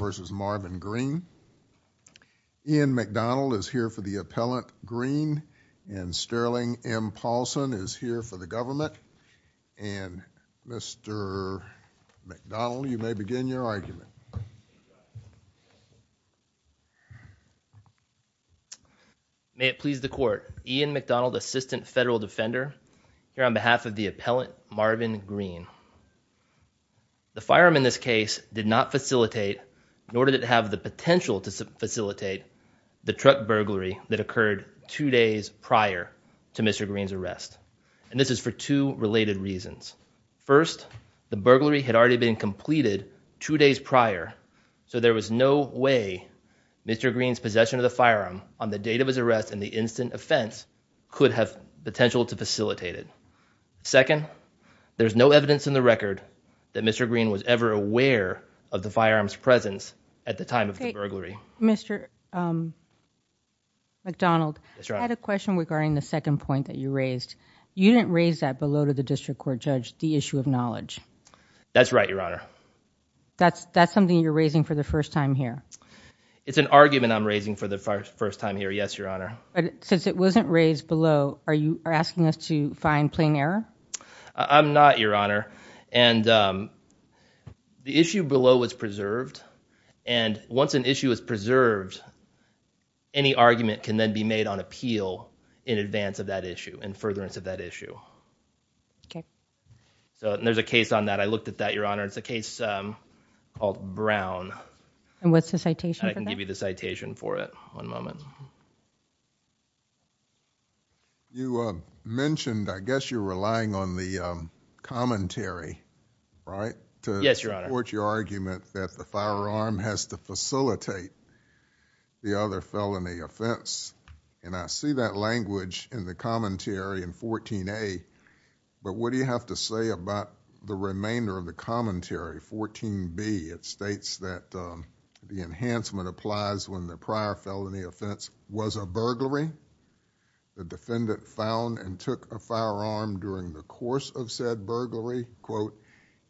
v. Marvin Green. Ian McDonald is here for the appellant, Green, and Sterling M. Paulson is here for the government. And, Mr. McDonald, you may begin your argument. May it please the Court, Ian McDonald, Assistant Federal Defender, here on behalf of the appellant in order to have the potential to facilitate the truck burglary that occurred two days prior to Mr. Green's arrest. And this is for two related reasons. First, the burglary had already been completed two days prior, so there was no way Mr. Green's possession of the firearm on the date of his arrest and the instant offense could have potential to facilitate it. Second, there's no evidence in the record that Mr. Green was ever aware of the firearm's presence at the time of the burglary. Mr. McDonald, I had a question regarding the second point that you raised. You didn't raise that below to the District Court judge, the issue of knowledge. That's right, Your Honor. That's something you're raising for the first time here? It's an argument I'm raising for the first time here, yes, Your Honor. But since it wasn't raised below, are you asking us to find plain error? I'm not, Your Honor. And the issue below was preserved. And once an issue is preserved, any argument can then be made on appeal in advance of that issue, in furtherance of that issue. Okay. So there's a case on that. I looked at that, Your Honor. It's a case called Brown. And what's the citation? I can give you the citation for it. One moment. You mentioned, I guess you're relying on the commentary, right? Yes, Your Honor. To support your argument that the firearm has to facilitate the other felony offense. And I see that language in the commentary in 14A. But what do you have to say about the remainder of the commentary, 14B? It states that the enhancement applies when the prior felony offense was a burglary. The defendant found and took a firearm during the course of said burglary, quote,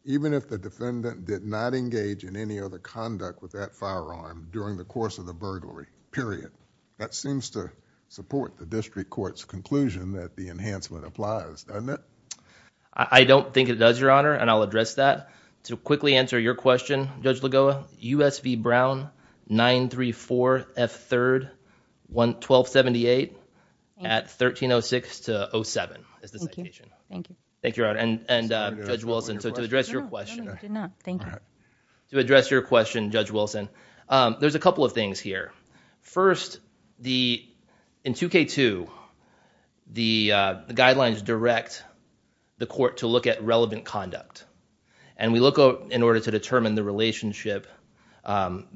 even if the defendant did not engage in any other conduct with that firearm during the course of the burglary, period. That seems to support the district court's conclusion that the enhancement applies, doesn't it? I don't think it does, Your Honor. And I'll address that. To quickly answer your question, Judge Lagoa, U.S. v. Brown, 934 F. 3rd, 1278 at 1306 to 07 is the citation. Thank you. Thank you, Your Honor. And Judge Wilson, to address your question. To address your question, Judge Wilson, there's a couple of things here. First, in 2K2, the guidelines direct the court to look at relevant conduct. And we look in order to determine the relationship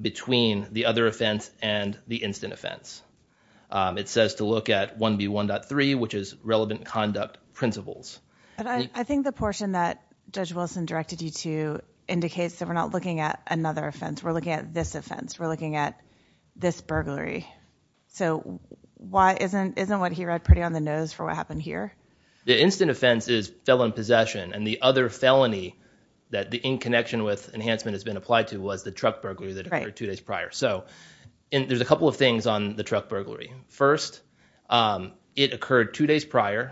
between the other offense and the instant offense. It says to look at 1B1.3, which is relevant conduct principles. I think the portion that Judge Wilson directed you to indicates that we're not looking at another offense. We're looking at this offense. We're putting on the nose for what happened here. The instant offense is felon possession. And the other felony that the in connection with enhancement has been applied to was the truck burglary that occurred two days prior. So there's a couple of things on the truck burglary. First, it occurred two days prior.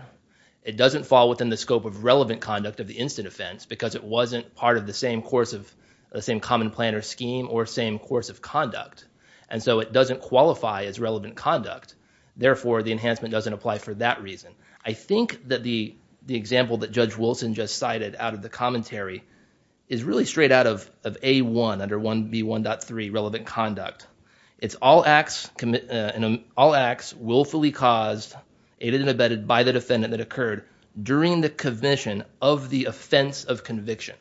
It doesn't fall within the scope of relevant conduct of the instant offense because it wasn't part of the same course of the same common planner scheme or same course of conduct. And so it doesn't qualify as relevant conduct. Therefore, the enhancement doesn't apply for that reason. I think that the example that Judge Wilson just cited out of the commentary is really straight out of A1, under 1B1.3, relevant conduct. It's all acts willfully caused, aided and abetted by the defendant that occurred during the commission of the offense of conviction.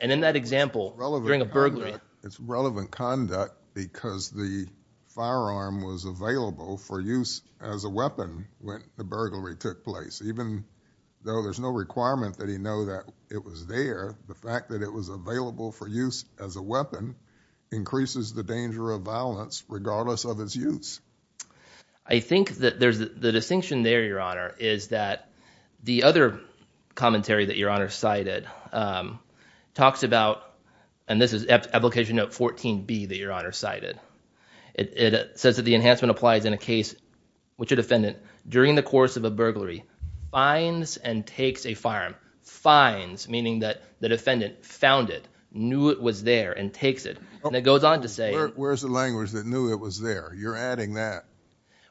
And in that example, during a burglary... the burglary took place. Even though there's no requirement that he know that it was there, the fact that it was available for use as a weapon increases the danger of violence regardless of its use. I think that there's the distinction there, Your Honor, is that the other commentary that Your Honor cited talks about, and this is application note 14B that Your Honor cited. It says that the enhancement applies in a case which a defendant, during the course of a burglary, finds and takes a firearm. Finds meaning that the defendant found it, knew it was there, and takes it. And it goes on to say... Where's the language that knew it was there? You're adding that.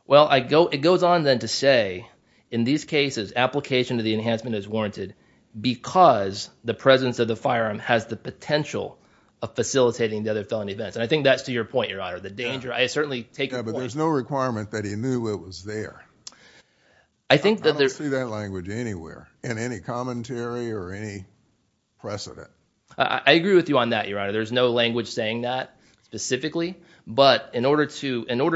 Well, it goes on then to say, in these cases, application of the enhancement is warranted because the presence of the firearm has the potential of facilitating the felony offense. And I think that's to your point, Your Honor. The danger... I certainly take... Yeah, but there's no requirement that he knew it was there. I think that... I don't see that language anywhere in any commentary or any precedent. I agree with you on that, Your Honor. There's no language saying that specifically. But in order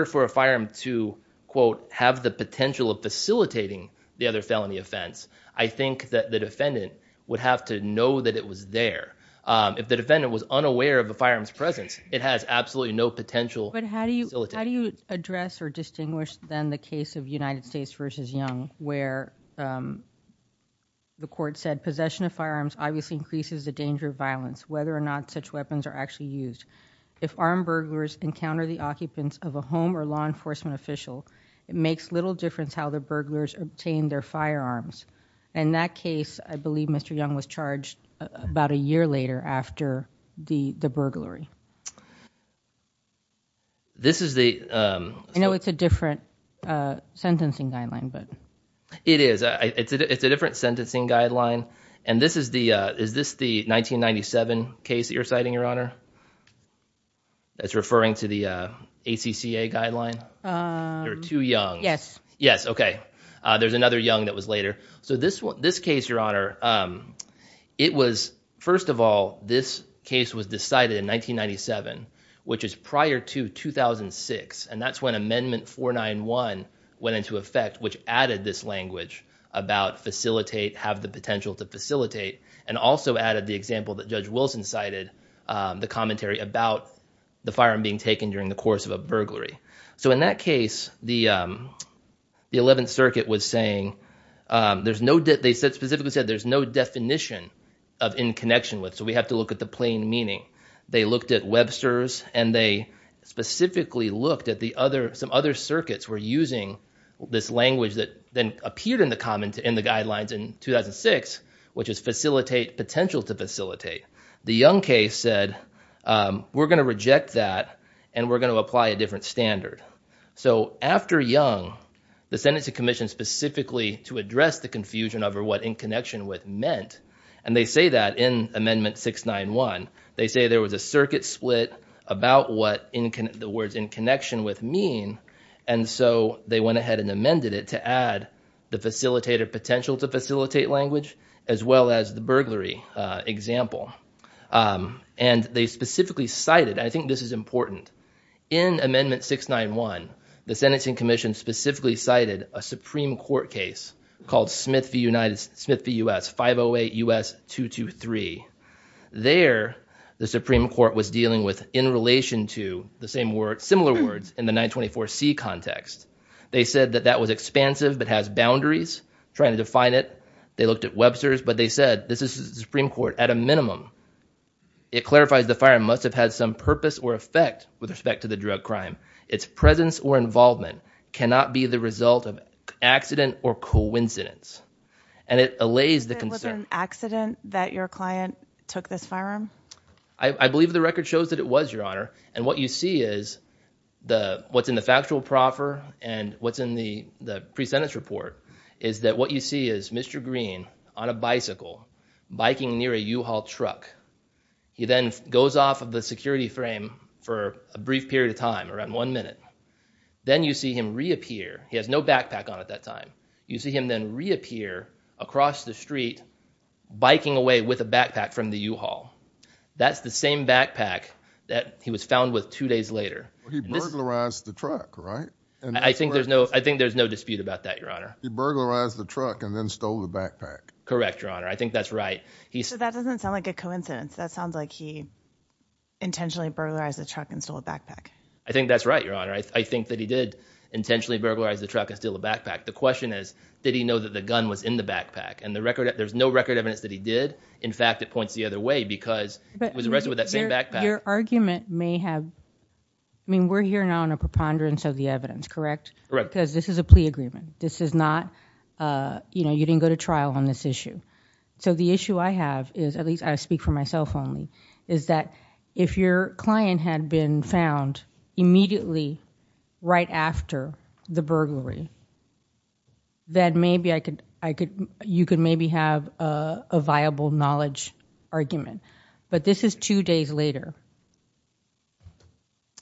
for a firearm to, quote, have the potential of facilitating the other felony offense, I think that the defendant would have to know that it was there. If the defendant was unaware of the firearm's presence, it has absolutely no potential... But how do you address or distinguish, then, the case of United States v. Young, where the court said, possession of firearms obviously increases the danger of violence, whether or not such weapons are actually used. If armed burglars encounter the occupants of a home or law enforcement official, it makes little difference how the burglars obtain their firearms. In that after the burglary. This is the... I know it's a different sentencing guideline, but... It is. It's a different sentencing guideline. And this is the... Is this the 1997 case that you're citing, Your Honor, that's referring to the ACCA guideline? There are two Youngs. Yes. Yes. Okay. There's another Young that was later. So this case, Your Honor, it was... First of all, this case was decided in 1997, which is prior to 2006. And that's when Amendment 491 went into effect, which added this language about facilitate, have the potential to facilitate, and also added the example that Judge Wilson cited, the commentary about the firearm being taken during the course of a burglary. So in that case, the 11th Circuit was saying, there's no... They specifically said there's no definition of in connection with, so we have to look at the plain meaning. They looked at Webster's, and they specifically looked at some other circuits were using this language that then appeared in the guidelines in 2006, which is potential to facilitate. The Young case said, we're going to reject that, and we're going to to address the confusion over what in connection with meant. And they say that in Amendment 691. They say there was a circuit split about what the words in connection with mean. And so they went ahead and amended it to add the facilitator potential to facilitate language, as well as the burglary example. And they specifically cited, and I think this is important, in Amendment 691, the Sentencing Commission specifically cited a Supreme Court case called Smith v. U.S. 508 U.S. 223. There, the Supreme Court was dealing with in relation to the same word, similar words in the 924C context. They said that that was expansive, but has boundaries, trying to define it. They looked at Webster's, but they said, this is the Supreme Court at a minimum. It clarifies the firearm must have had some purpose or effect with respect to the drug crime. Its presence or involvement cannot be the result of accident or coincidence. And it allays the concern. Was it an accident that your client took this firearm? I believe the record shows that it was, Your Honor. And what you see is, what's in the factual proffer and what's in the pre-sentence report, is that what you see is Mr. Green on a bicycle biking near a U-Haul truck. He then goes off of the security frame for a brief period of one minute. Then you see him reappear. He has no backpack on at that time. You see him then reappear across the street, biking away with a backpack from the U-Haul. That's the same backpack that he was found with two days later. He burglarized the truck, right? I think there's no, I think there's no dispute about that, Your Honor. He burglarized the truck and then stole the backpack. Correct, Your Honor. I think that's right. So that doesn't sound like a coincidence. That sounds like he intentionally burglarized the truck and stole a backpack. I think that's right, Your Honor. I think that he did intentionally burglarize the truck and steal a backpack. The question is, did he know that the gun was in the backpack? And the record, there's no record evidence that he did. In fact, it points the other way because he was arrested with that same backpack. Your argument may have, I mean, we're here now on a preponderance of the evidence, correct? Correct. Because this is a plea agreement. This is not, you know, you didn't go to trial on this issue. So the issue I have is, at least I speak for myself only, is that if your client had been found immediately right after the burglary, then maybe I could, I could, you could maybe have a viable knowledge argument. But this is two days later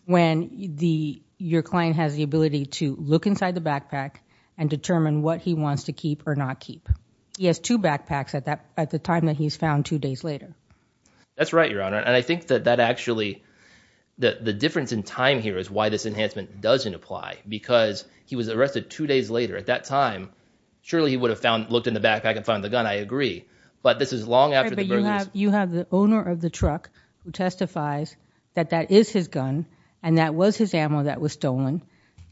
when the, your client has the ability to look inside the backpack and determine what he wants to keep or not keep. He has two backpacks at that, at the time that he's found two days later. That's right, Your Honor. And I think that that actually, the difference in time here is why this enhancement doesn't apply. Because he was arrested two days later. At that time, surely he would have found, looked in the backpack and found the gun. I agree. But this is long after the burglaries. You have the owner of the truck who testifies that that is his gun and that was his ammo that was stolen.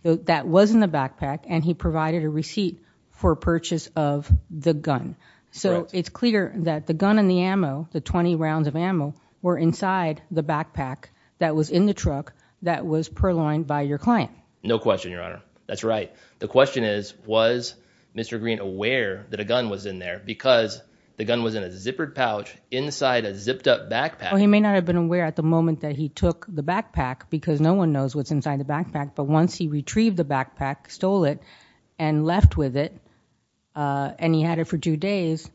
That was in the backpack and he provided a receipt for purchase of the gun. So it's clear that the gun and the ammo, the 20 rounds of ammo, were inside the backpack that was in the truck that was purloined by your client. No question, Your Honor. That's right. The question is, was Mr. Green aware that a gun was in there because the gun was in a zippered pouch inside a zipped up backpack? He may not have been aware at the moment that he took the backpack because no one knows what's inside the backpack. But once he retrieved the backpack, stole it and left with it, uh, and he had it for two days,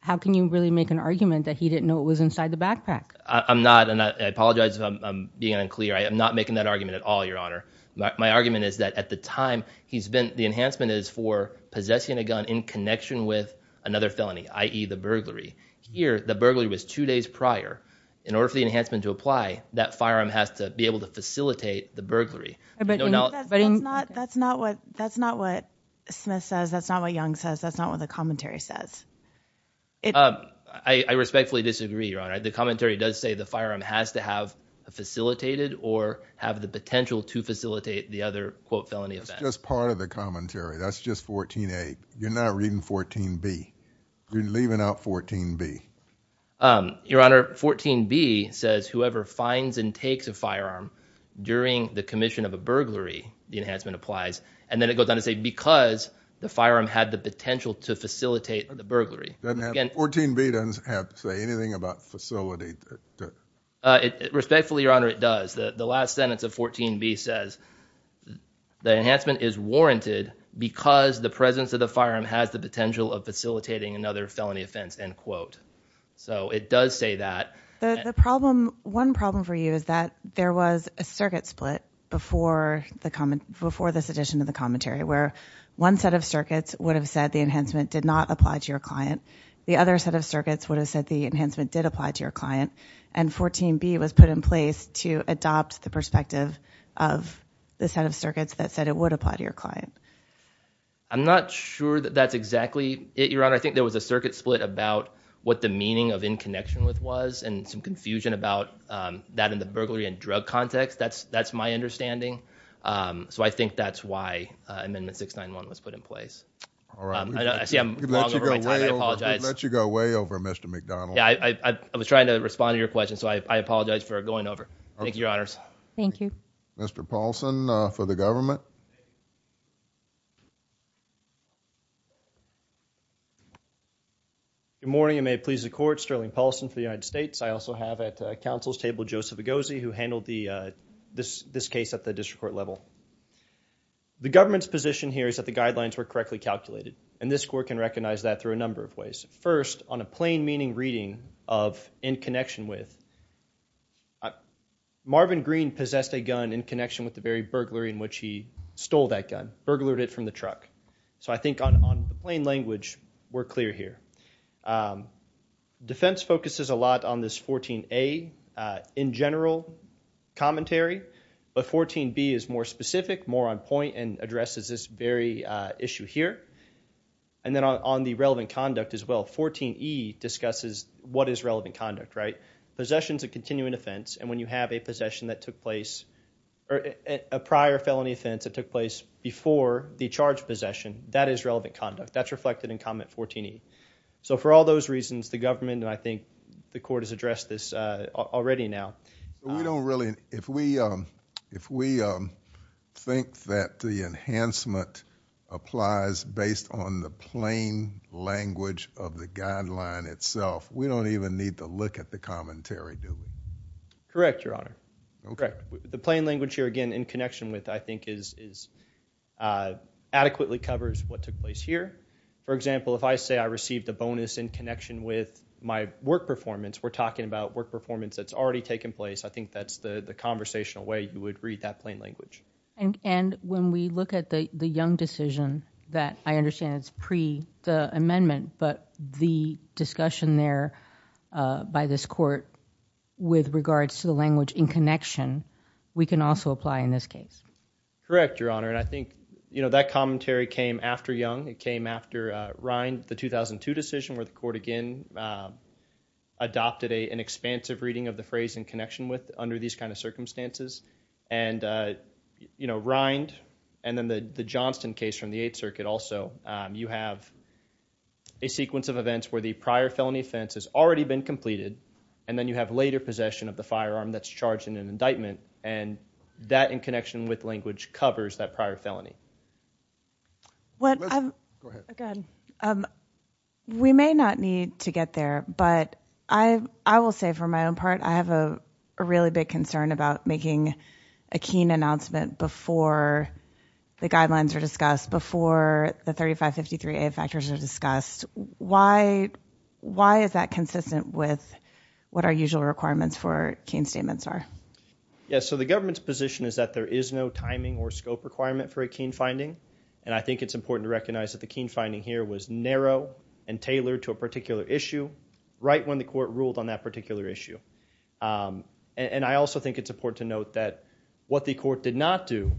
how can you really make an argument that he didn't know it was inside the backpack? I'm not, and I apologize if I'm being unclear. I am not making that argument at all, Your Honor. My argument is that at the time he's been, the enhancement is for possessing a gun in connection with another felony, i.e. the burglary. Here, the burglary was two days prior. In order for the enhancement to apply, that firearm has to be able to facilitate the burglary. But that's not what, that's not what Smith says. That's not what Young says. That's not what the commentary says. Um, I, I respectfully disagree, Your Honor. The commentary does say the firearm has to have facilitated or have the potential to facilitate the other, quote, felony offense. It's just part of the commentary. That's just 14a. You're not reading 14b. You're leaving out 14b. Um, Your Honor, 14b says whoever finds and takes a firearm during the commission of a burglary, the enhancement applies. And then it goes on to say because the firearm had the potential to facilitate the burglary. 14b doesn't have to say anything about facility. Respectfully, Your Honor, it does. The last sentence of 14b says the enhancement is warranted because the presence of the firearm has the potential of facilitating another felony offense, end quote. So it does say that. The problem, one problem for you is that there was a circuit split before the comment, before this edition of the commentary where one set of circuits would have said the enhancement did not apply to your client. The other set of circuits would have said the enhancement did apply to your client. And 14b was put in place to adopt the perspective of the set of circuits that said it would apply to your client. I'm not sure that that's exactly it, Your Honor. I think there was a circuit split about what the meaning of in connection with was and some confusion about, um, that in the drug context, that's, that's my understanding. Um, so I think that's why, uh, Amendment 691 was put in place. All right. I see I'm long over my time. I apologize. Let you go way over, Mr. McDonald. Yeah, I, I, I was trying to respond to your question. So I apologize for going over. Thank you, Your Honors. Thank you. Mr. Paulson, uh, for the government. Good morning, and may it please the court, Sterling Paulson for the United States. I also have at the council's table, Joseph Egozi, who handled the, uh, this, this case at the district court level. The government's position here is that the guidelines were correctly calculated, and this court can recognize that through a number of ways. First on a plain meaning reading of in connection with, uh, Marvin Green possessed a gun in connection with the very burglary in which he stole that gun, burglared it from the truck. So I think on, on the plain we're clear here. Um, defense focuses a lot on this 14A, uh, in general commentary, but 14B is more specific, more on point and addresses this very, uh, issue here. And then on the relevant conduct as well, 14E discusses what is relevant conduct, right? Possessions of continuing offense. And when you have a possession that took place or a prior felony offense that took place before the charge possession, that is relevant conduct that's reflected in comment 14E. So for all those reasons, the government, and I think the court has addressed this, uh, already now. We don't really, if we, um, if we, um, think that the enhancement applies based on the plain language of the guideline itself, we don't even need to look at the commentary, do we? Correct, your honor. Okay. The plain language here, again, in connection with, I think is, is, uh, adequately covers what took place here. For example, if I say I received a bonus in connection with my work performance, we're talking about work performance that's already taken place. I think that's the conversational way you would read that plain language. And when we look at the, the young decision that I understand it's pre the amendment, but the discussion there, uh, by this court with regards to the language in connection, we can also apply in this case. Correct, your honor. And I think, you know, that commentary came after young, it came after, uh, Rind, the 2002 decision where the court again, um, adopted a, an expansive reading of the phrase in connection with under these kinds of circumstances and, uh, you know, Rind and then the, the Johnston case from the eighth circuit. Also, um, you have a sequence of events where the prior felony offense has already been completed. And then you have later possession of the firearm that's charged in an indictment. And that in connection with language covers that prior felony. What, um, again, um, we may not need to get there, but I, I will say for my own part, I have a, a really big concern about making a keen announcement before the guidelines are discussed. Why, why is that consistent with what our usual requirements for keen statements are? Yeah. So the government's position is that there is no timing or scope requirement for a keen finding. And I think it's important to recognize that the keen finding here was narrow and tailored to a particular issue right when the court ruled on that particular issue. Um, and I also think it's important to note that what the court did not do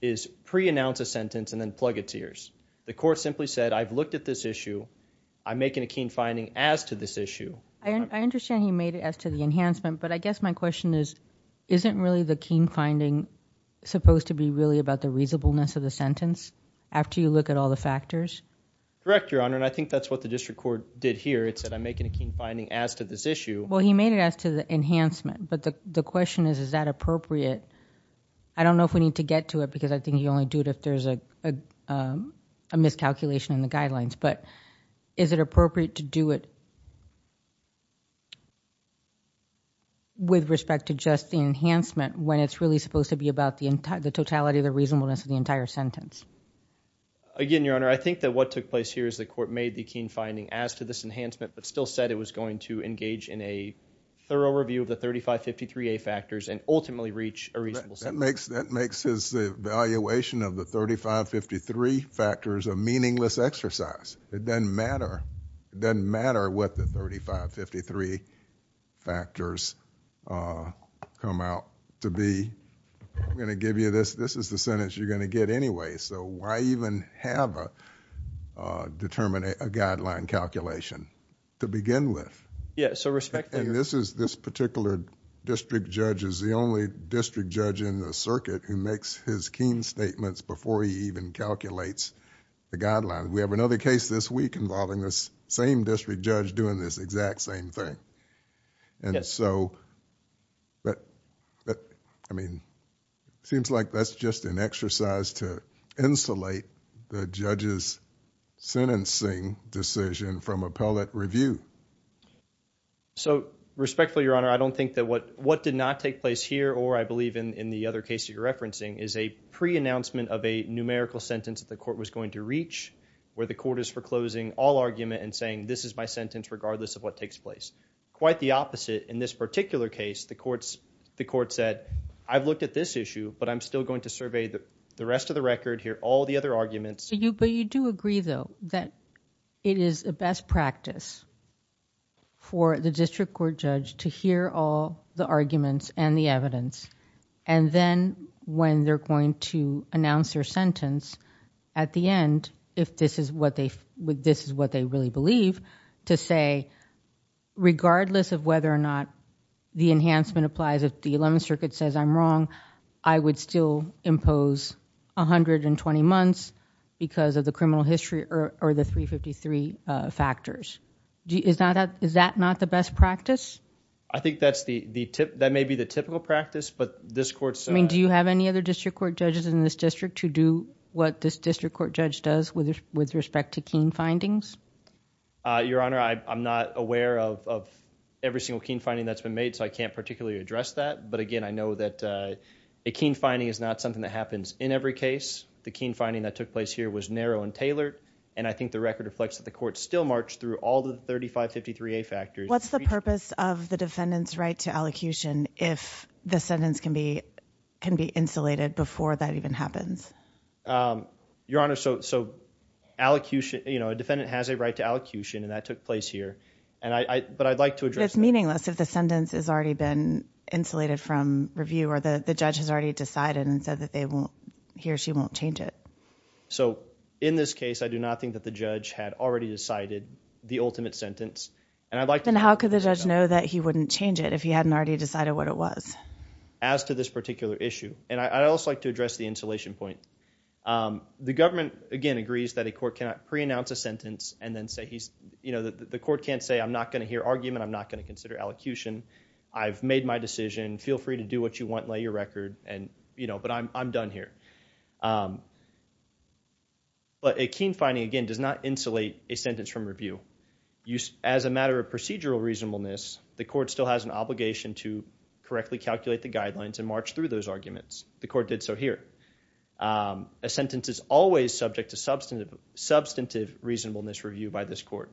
is pre-announce a sentence and then plug it to yours. The court simply said, I've looked at this issue. I'm making a keen finding as to this issue. I understand he made it as to the enhancement, but I guess my question is, isn't really the keen finding supposed to be really about the reasonableness of the sentence after you look at all the factors. Correct your honor. And I think that's what the district court did here. It said, I'm making a keen finding as to this issue. Well, he made it as to the enhancement, but the question is, is that appropriate? I don't know if we need to get to it because I think you a miscalculation in the guidelines, but is it appropriate to do it with respect to just the enhancement when it's really supposed to be about the entire, the totality of the reasonableness of the entire sentence? Again, your honor, I think that what took place here is the court made the keen finding as to this enhancement, but still said it was going to engage in a thorough review of the 3553A factors and ultimately reach a reasonable sentence. That makes his evaluation of the 3553 factors a meaningless exercise. It doesn't matter. It doesn't matter what the 3553 factors come out to be. I'm going to give you this. This is the sentence you're going to get anyway, so why even have a guideline calculation to begin with? Yeah, so respecting... This particular district judge is the only district judge in the circuit who makes his keen statements before he even calculates the guidelines. We have another case this week involving this same district judge doing this exact same thing. It seems like that's just an exercise to insulate the judge's sentencing decision from appellate review. So respectfully, your honor, I don't think that what did not take place here or I believe in the other case you're referencing is a pre-announcement of a numerical sentence that the court was going to reach where the court is foreclosing all argument and saying this is my sentence regardless of what takes place. Quite the opposite. In this particular case, the court said, I've looked at this issue, but I'm still going to survey the rest of the record here, all the other arguments. But you do agree, though, that it is a best practice for the district court judge to hear all the arguments and the evidence, and then when they're going to announce their sentence at the end, if this is what they really believe, to say regardless of whether or not the enhancement applies, if the Eleventh Circuit says I'm wrong, I would still impose 120 months because of the criminal history or the 353 factors. Is that not the best practice? I think that may be the typical practice, but this court said... I mean, do you have any other district court judges in this district who do what this district court judge does with respect to Keene findings? Your honor, I'm not aware of every single Keene finding that's been made, so I can't particularly address that. But again, I know that a Keene finding is not something that happens in every case. The Keene finding that took place here was narrow and tailored, and I think the record reflects that the court still marched through all the 3553A factors. What's the purpose of the defendant's right to allocution if the sentence can be insulated before that even happens? Your honor, so allocution, you know, a defendant has a right to allocution, and that took place here. But I'd like to address that. But it's meaningless if the sentence has already been insulated from review, or the judge has already decided and said that they won't, he or she won't change it. So in this case, I do not think that the judge had already decided the ultimate sentence. And I'd like to... Then how could the judge know that he wouldn't change it if he hadn't already decided what it was? As to this particular issue, and I'd also like to address the insulation point. The government, again, agrees that a court cannot pre-announce a sentence and then say he's, you know, the court can't say I'm not going to hear argument, I'm not going to consider allocution. I've made my decision, feel free to do what you want, lay your record, and you know, but I'm done here. But a keen finding, again, does not insulate a sentence from review. As a matter of procedural reasonableness, the court still has an obligation to correctly calculate the guidelines and march through those arguments. The court did so here. A sentence is always subject to substantive reasonableness review by this court.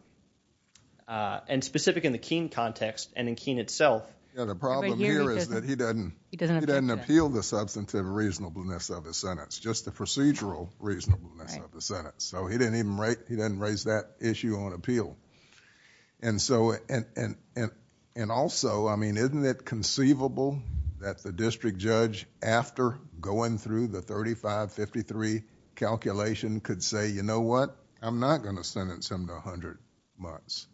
Uh, and specific in the Keene context and in Keene itself. Yeah, the problem here is that he doesn't appeal the substantive reasonableness of his sentence, just the procedural reasonableness of the sentence. So, he didn't even raise that issue on appeal. And so, and also, I mean, isn't it conceivable that the district judge, after going through the 35-53 calculation could say, you know what, I'm not going to sentence him to 100 months.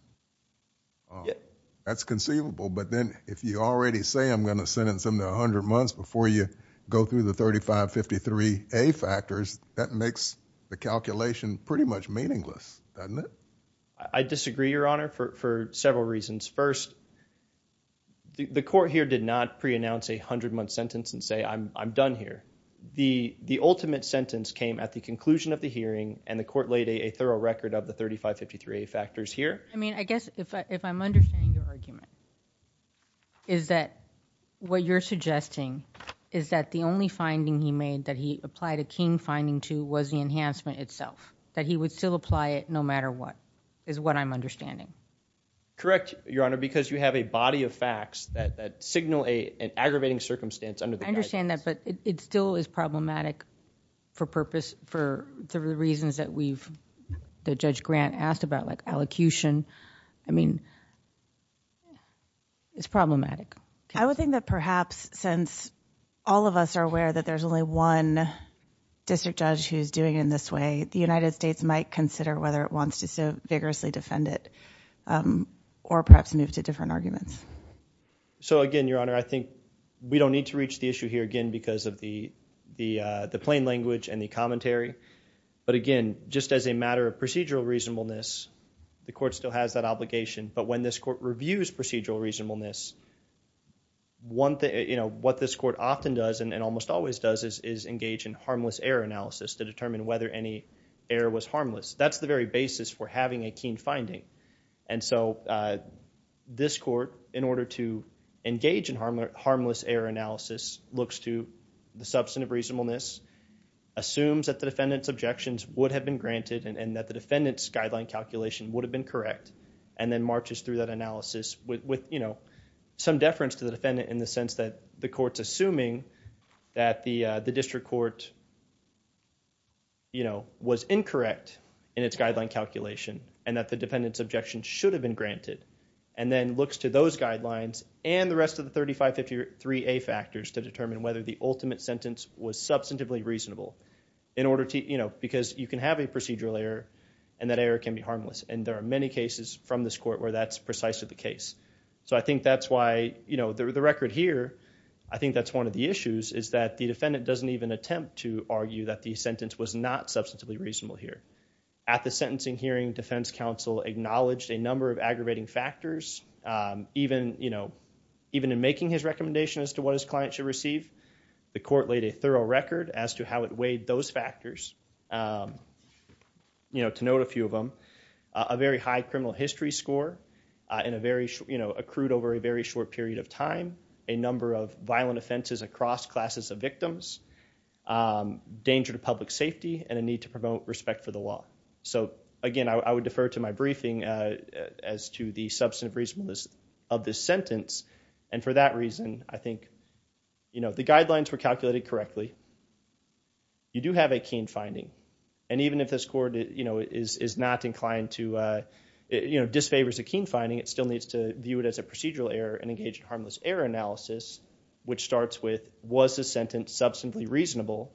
That's conceivable, but then if you already say I'm going to sentence him to 100 months before you go through the 35-53 A factors, that makes the calculation pretty much meaningless, doesn't it? I disagree, Your Honor, for several reasons. First, the court here did not pre-announce a 100-month sentence and say, I'm done here. The ultimate sentence came at the conclusion of the hearing and the court laid a thorough record of the 35-53 A factors here. I mean, I guess if I'm understanding your argument, is that what you're suggesting is that the only finding he made that he applied a Keene finding to was the enhancement itself, that he would still apply it no matter what, is what I'm understanding. Correct, Your Honor, because you have a body of facts that signal an aggravating circumstance. I understand that, but it still is problematic for purpose, for the reasons that we've, that Judge Grant asked about, like allocution. I mean, it's problematic. I would think that perhaps since all of us are aware that there's only one district judge who's doing it in this way, the United States might consider whether it wants to so vigorously defend it or perhaps move to different arguments. So again, Your Honor, I think we don't need to reach the issue here again because of the plain language and the commentary. But again, just as a matter of procedural reasonableness, the court still has that obligation. But when this court reviews procedural reasonableness, what this court often does and almost always does is engage in harmless error analysis to determine whether any error was harmless. That's the very basis for having a Keene finding. And so this court, in order to engage in harmless error analysis, looks to the substantive reasonableness, assumes that the defendant's objections would have been granted and that the defendant's guideline calculation would have been correct, and then marches through that analysis with, you know, some deference to the defendant in the sense that the court's assuming that the district court, you know, was incorrect in its objection should have been granted, and then looks to those guidelines and the rest of the 3553A factors to determine whether the ultimate sentence was substantively reasonable in order to, you know, because you can have a procedural error and that error can be harmless. And there are many cases from this court where that's precisely the case. So I think that's why, you know, the record here, I think that's one of the issues is that the defendant doesn't even attempt to argue that the sentence was not substantively reasonable here. At the sentencing hearing, defense counsel acknowledged a number of aggravating factors, even, you know, even in making his recommendation as to what his client should receive, the court laid a thorough record as to how it weighed those factors. You know, to note a few of them, a very high criminal history score in a very, you know, accrued over a very short period of time, a number of violent offenses across classes of victims, danger to public safety, and a need to promote respect for the law. So, again, I would defer to my briefing as to the substantive reasonableness of this sentence. And for that reason, I think, you know, the guidelines were calculated correctly. You do have a keen finding. And even if this court, you know, is not inclined to, you know, disfavors a keen finding, it still needs to view it as a procedural error and engage in harmless error analysis, which starts with, was the sentence substantively reasonable?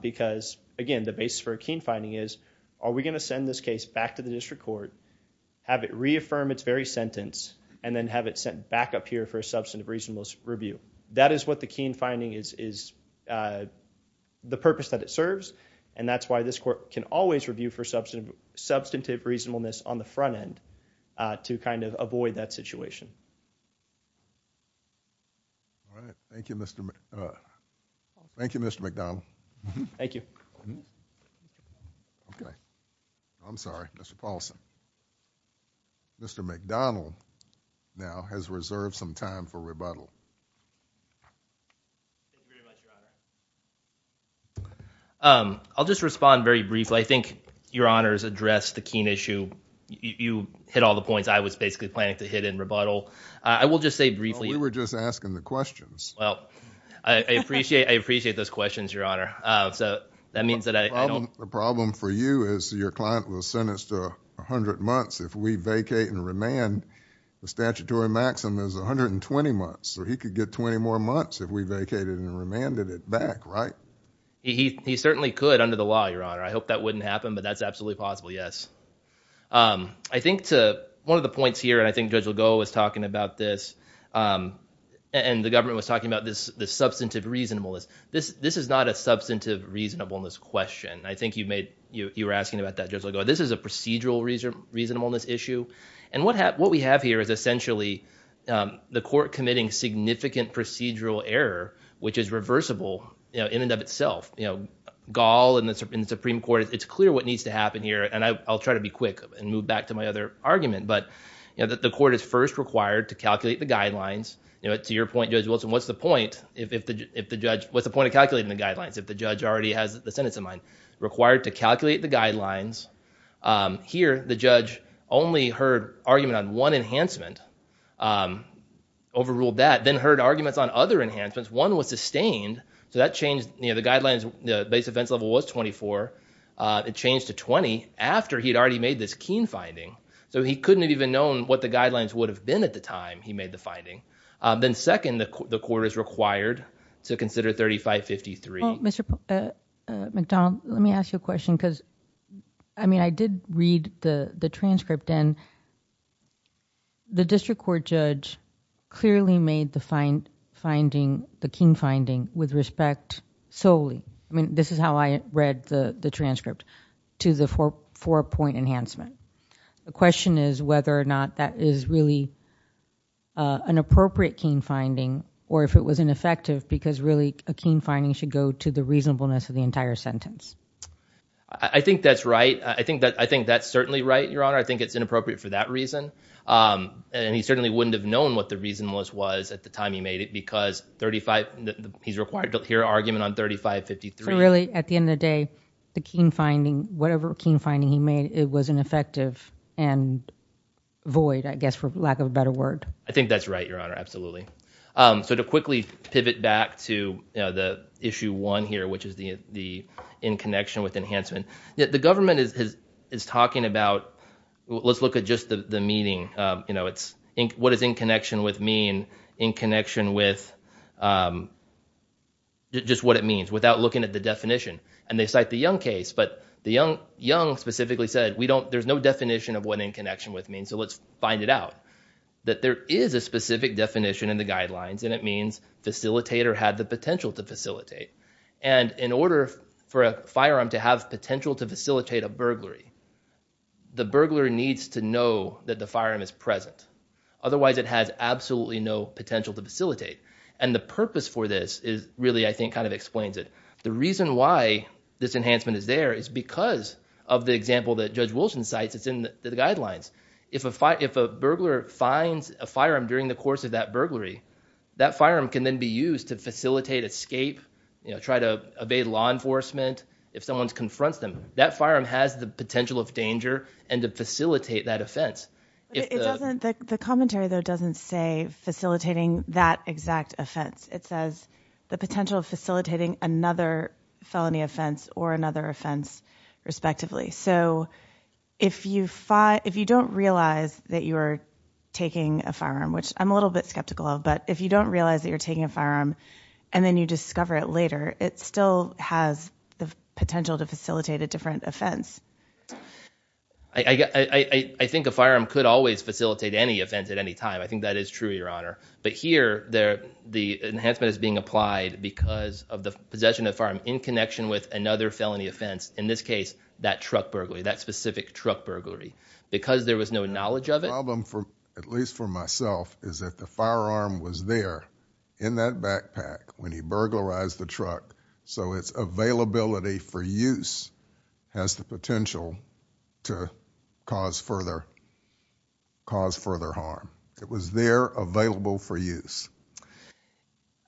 Because, again, the basis for a keen finding is, are we going to send this case back to the district court, have it reaffirm its very sentence, and then have it sent back up here for a substantive reasonableness review? That is what the keen finding is the purpose that it serves. And that's why this court can always review for substantive reasonableness on the front end to kind of avoid that situation. All right. Thank you, Mr. McDonnell. Thank you. Okay. I'm sorry, Mr. Paulson. Mr. McDonnell now has reserved some time for rebuttal. I'll just respond very briefly. I think your honors addressed the keen issue. You hit all the points I was basically planning to hit in rebuttal. I will just say briefly. We were just asking the questions. Well, I appreciate those questions, your honor. So that means that I don't... The problem for you is your client was sentenced to 100 months. If we vacate and remand, the statutory maximum is 120 months. So he could get 20 more months if we vacated and remanded it back, right? He certainly could under the law, your honor. I hope that wouldn't happen, but that's absolutely possible, yes. I think to one of the points here, and I think Judge Legault was talking about this, and the government was talking about this substantive reasonableness. This is not a substantive reasonableness question. I think you were asking about that, Judge Legault. This is a procedural reasonableness issue. And what we have here is essentially the court committing significant procedural error, which is reversible in and of itself. Gall and the Supreme Court, it's clear what needs to happen here. And I'll try to be quick and move back to my other argument. But the court is first required to calculate the guidelines. To your point, Judge Wilson, what's the point of calculating the guidelines if the judge already has the sentence in mind? Required to calculate the guidelines. Here, the judge only heard argument on one enhancement, overruled that, then heard arguments on other enhancements. One was sustained, so that changed. The guidelines, the base offense level was 24. It changed to 20 after he had already made this Keene finding. So he couldn't have even known what the guidelines would have been at the time he made the finding. Then second, the court is required to consider 3553. Mr. McDonald, let me ask you a question. I mean, I did read the transcript. And the district court judge clearly made the Keene finding with respect solely. I mean, this is how I read the transcript to the four-point enhancement. The question is whether or not that is really an appropriate Keene finding, or if it was ineffective, because really a Keene finding should go to the reasonableness of the entire sentence. I think that's right. I think that's certainly right, Your Honor. I think it's inappropriate for that reason. And he certainly wouldn't have known what the reason was at the time he made it, because he's required to hear argument on 3553. So really, at the end of the day, the Keene finding, whatever Keene finding he made, it was ineffective and void, I guess, for lack of a better word. I think that's right, Your Honor. Absolutely. So to quickly pivot back to the issue one here, which is the in connection with enhancement, the government is talking about, let's look at just the meeting. What does in connection with mean? They cite the Young case, but Young specifically said there's no definition of what in connection with means, so let's find it out. That there is a specific definition in the guidelines, and it means facilitator had the potential to facilitate. And in order for a firearm to have potential to facilitate a burglary, the burglar needs to know that the firearm is present. Otherwise, it has absolutely no potential to facilitate. And the purpose for this really, I think, kind of explains it. The reason why this enhancement is there is because of the example that Judge Wilson cites that's in the guidelines. If a burglar finds a firearm during the course of that burglary, that firearm can then be used to facilitate escape, try to evade law enforcement if someone confronts them. That firearm has the potential of danger and to facilitate that offense. The commentary, though, doesn't say facilitating that exact offense. It says the potential of facilitating another felony offense or another offense, respectively. So if you don't realize that you are taking a firearm, which I'm a little bit skeptical of, but if you don't realize that you're taking a firearm and then you discover it later, it still has the potential to facilitate a different offense. I think a firearm could always facilitate any offense at any time. I think that is true, Your Honor. But here, the enhancement is being applied because of the possession of the firearm in connection with another felony offense. In this case, that truck burglary, that specific truck burglary. Because there was no knowledge of it— The problem, at least for myself, is that the firearm was there in that backpack when he burglarized the truck. So its availability for use has the potential to cause further harm. It was there available for use.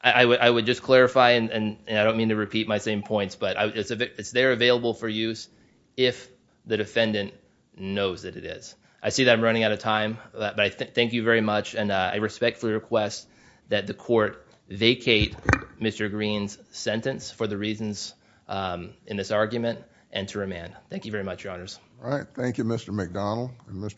I would just clarify, and I don't mean to repeat my same points, but it's there available for use if the defendant knows that it is. I see that I'm running out of time, but I thank you very much, and I respectfully request that the court vacate Mr. Green's sentence for the reasons in this argument and to remand. Thank you very much, Your Honors. All right. Thank you, Mr. McDonald and Mr.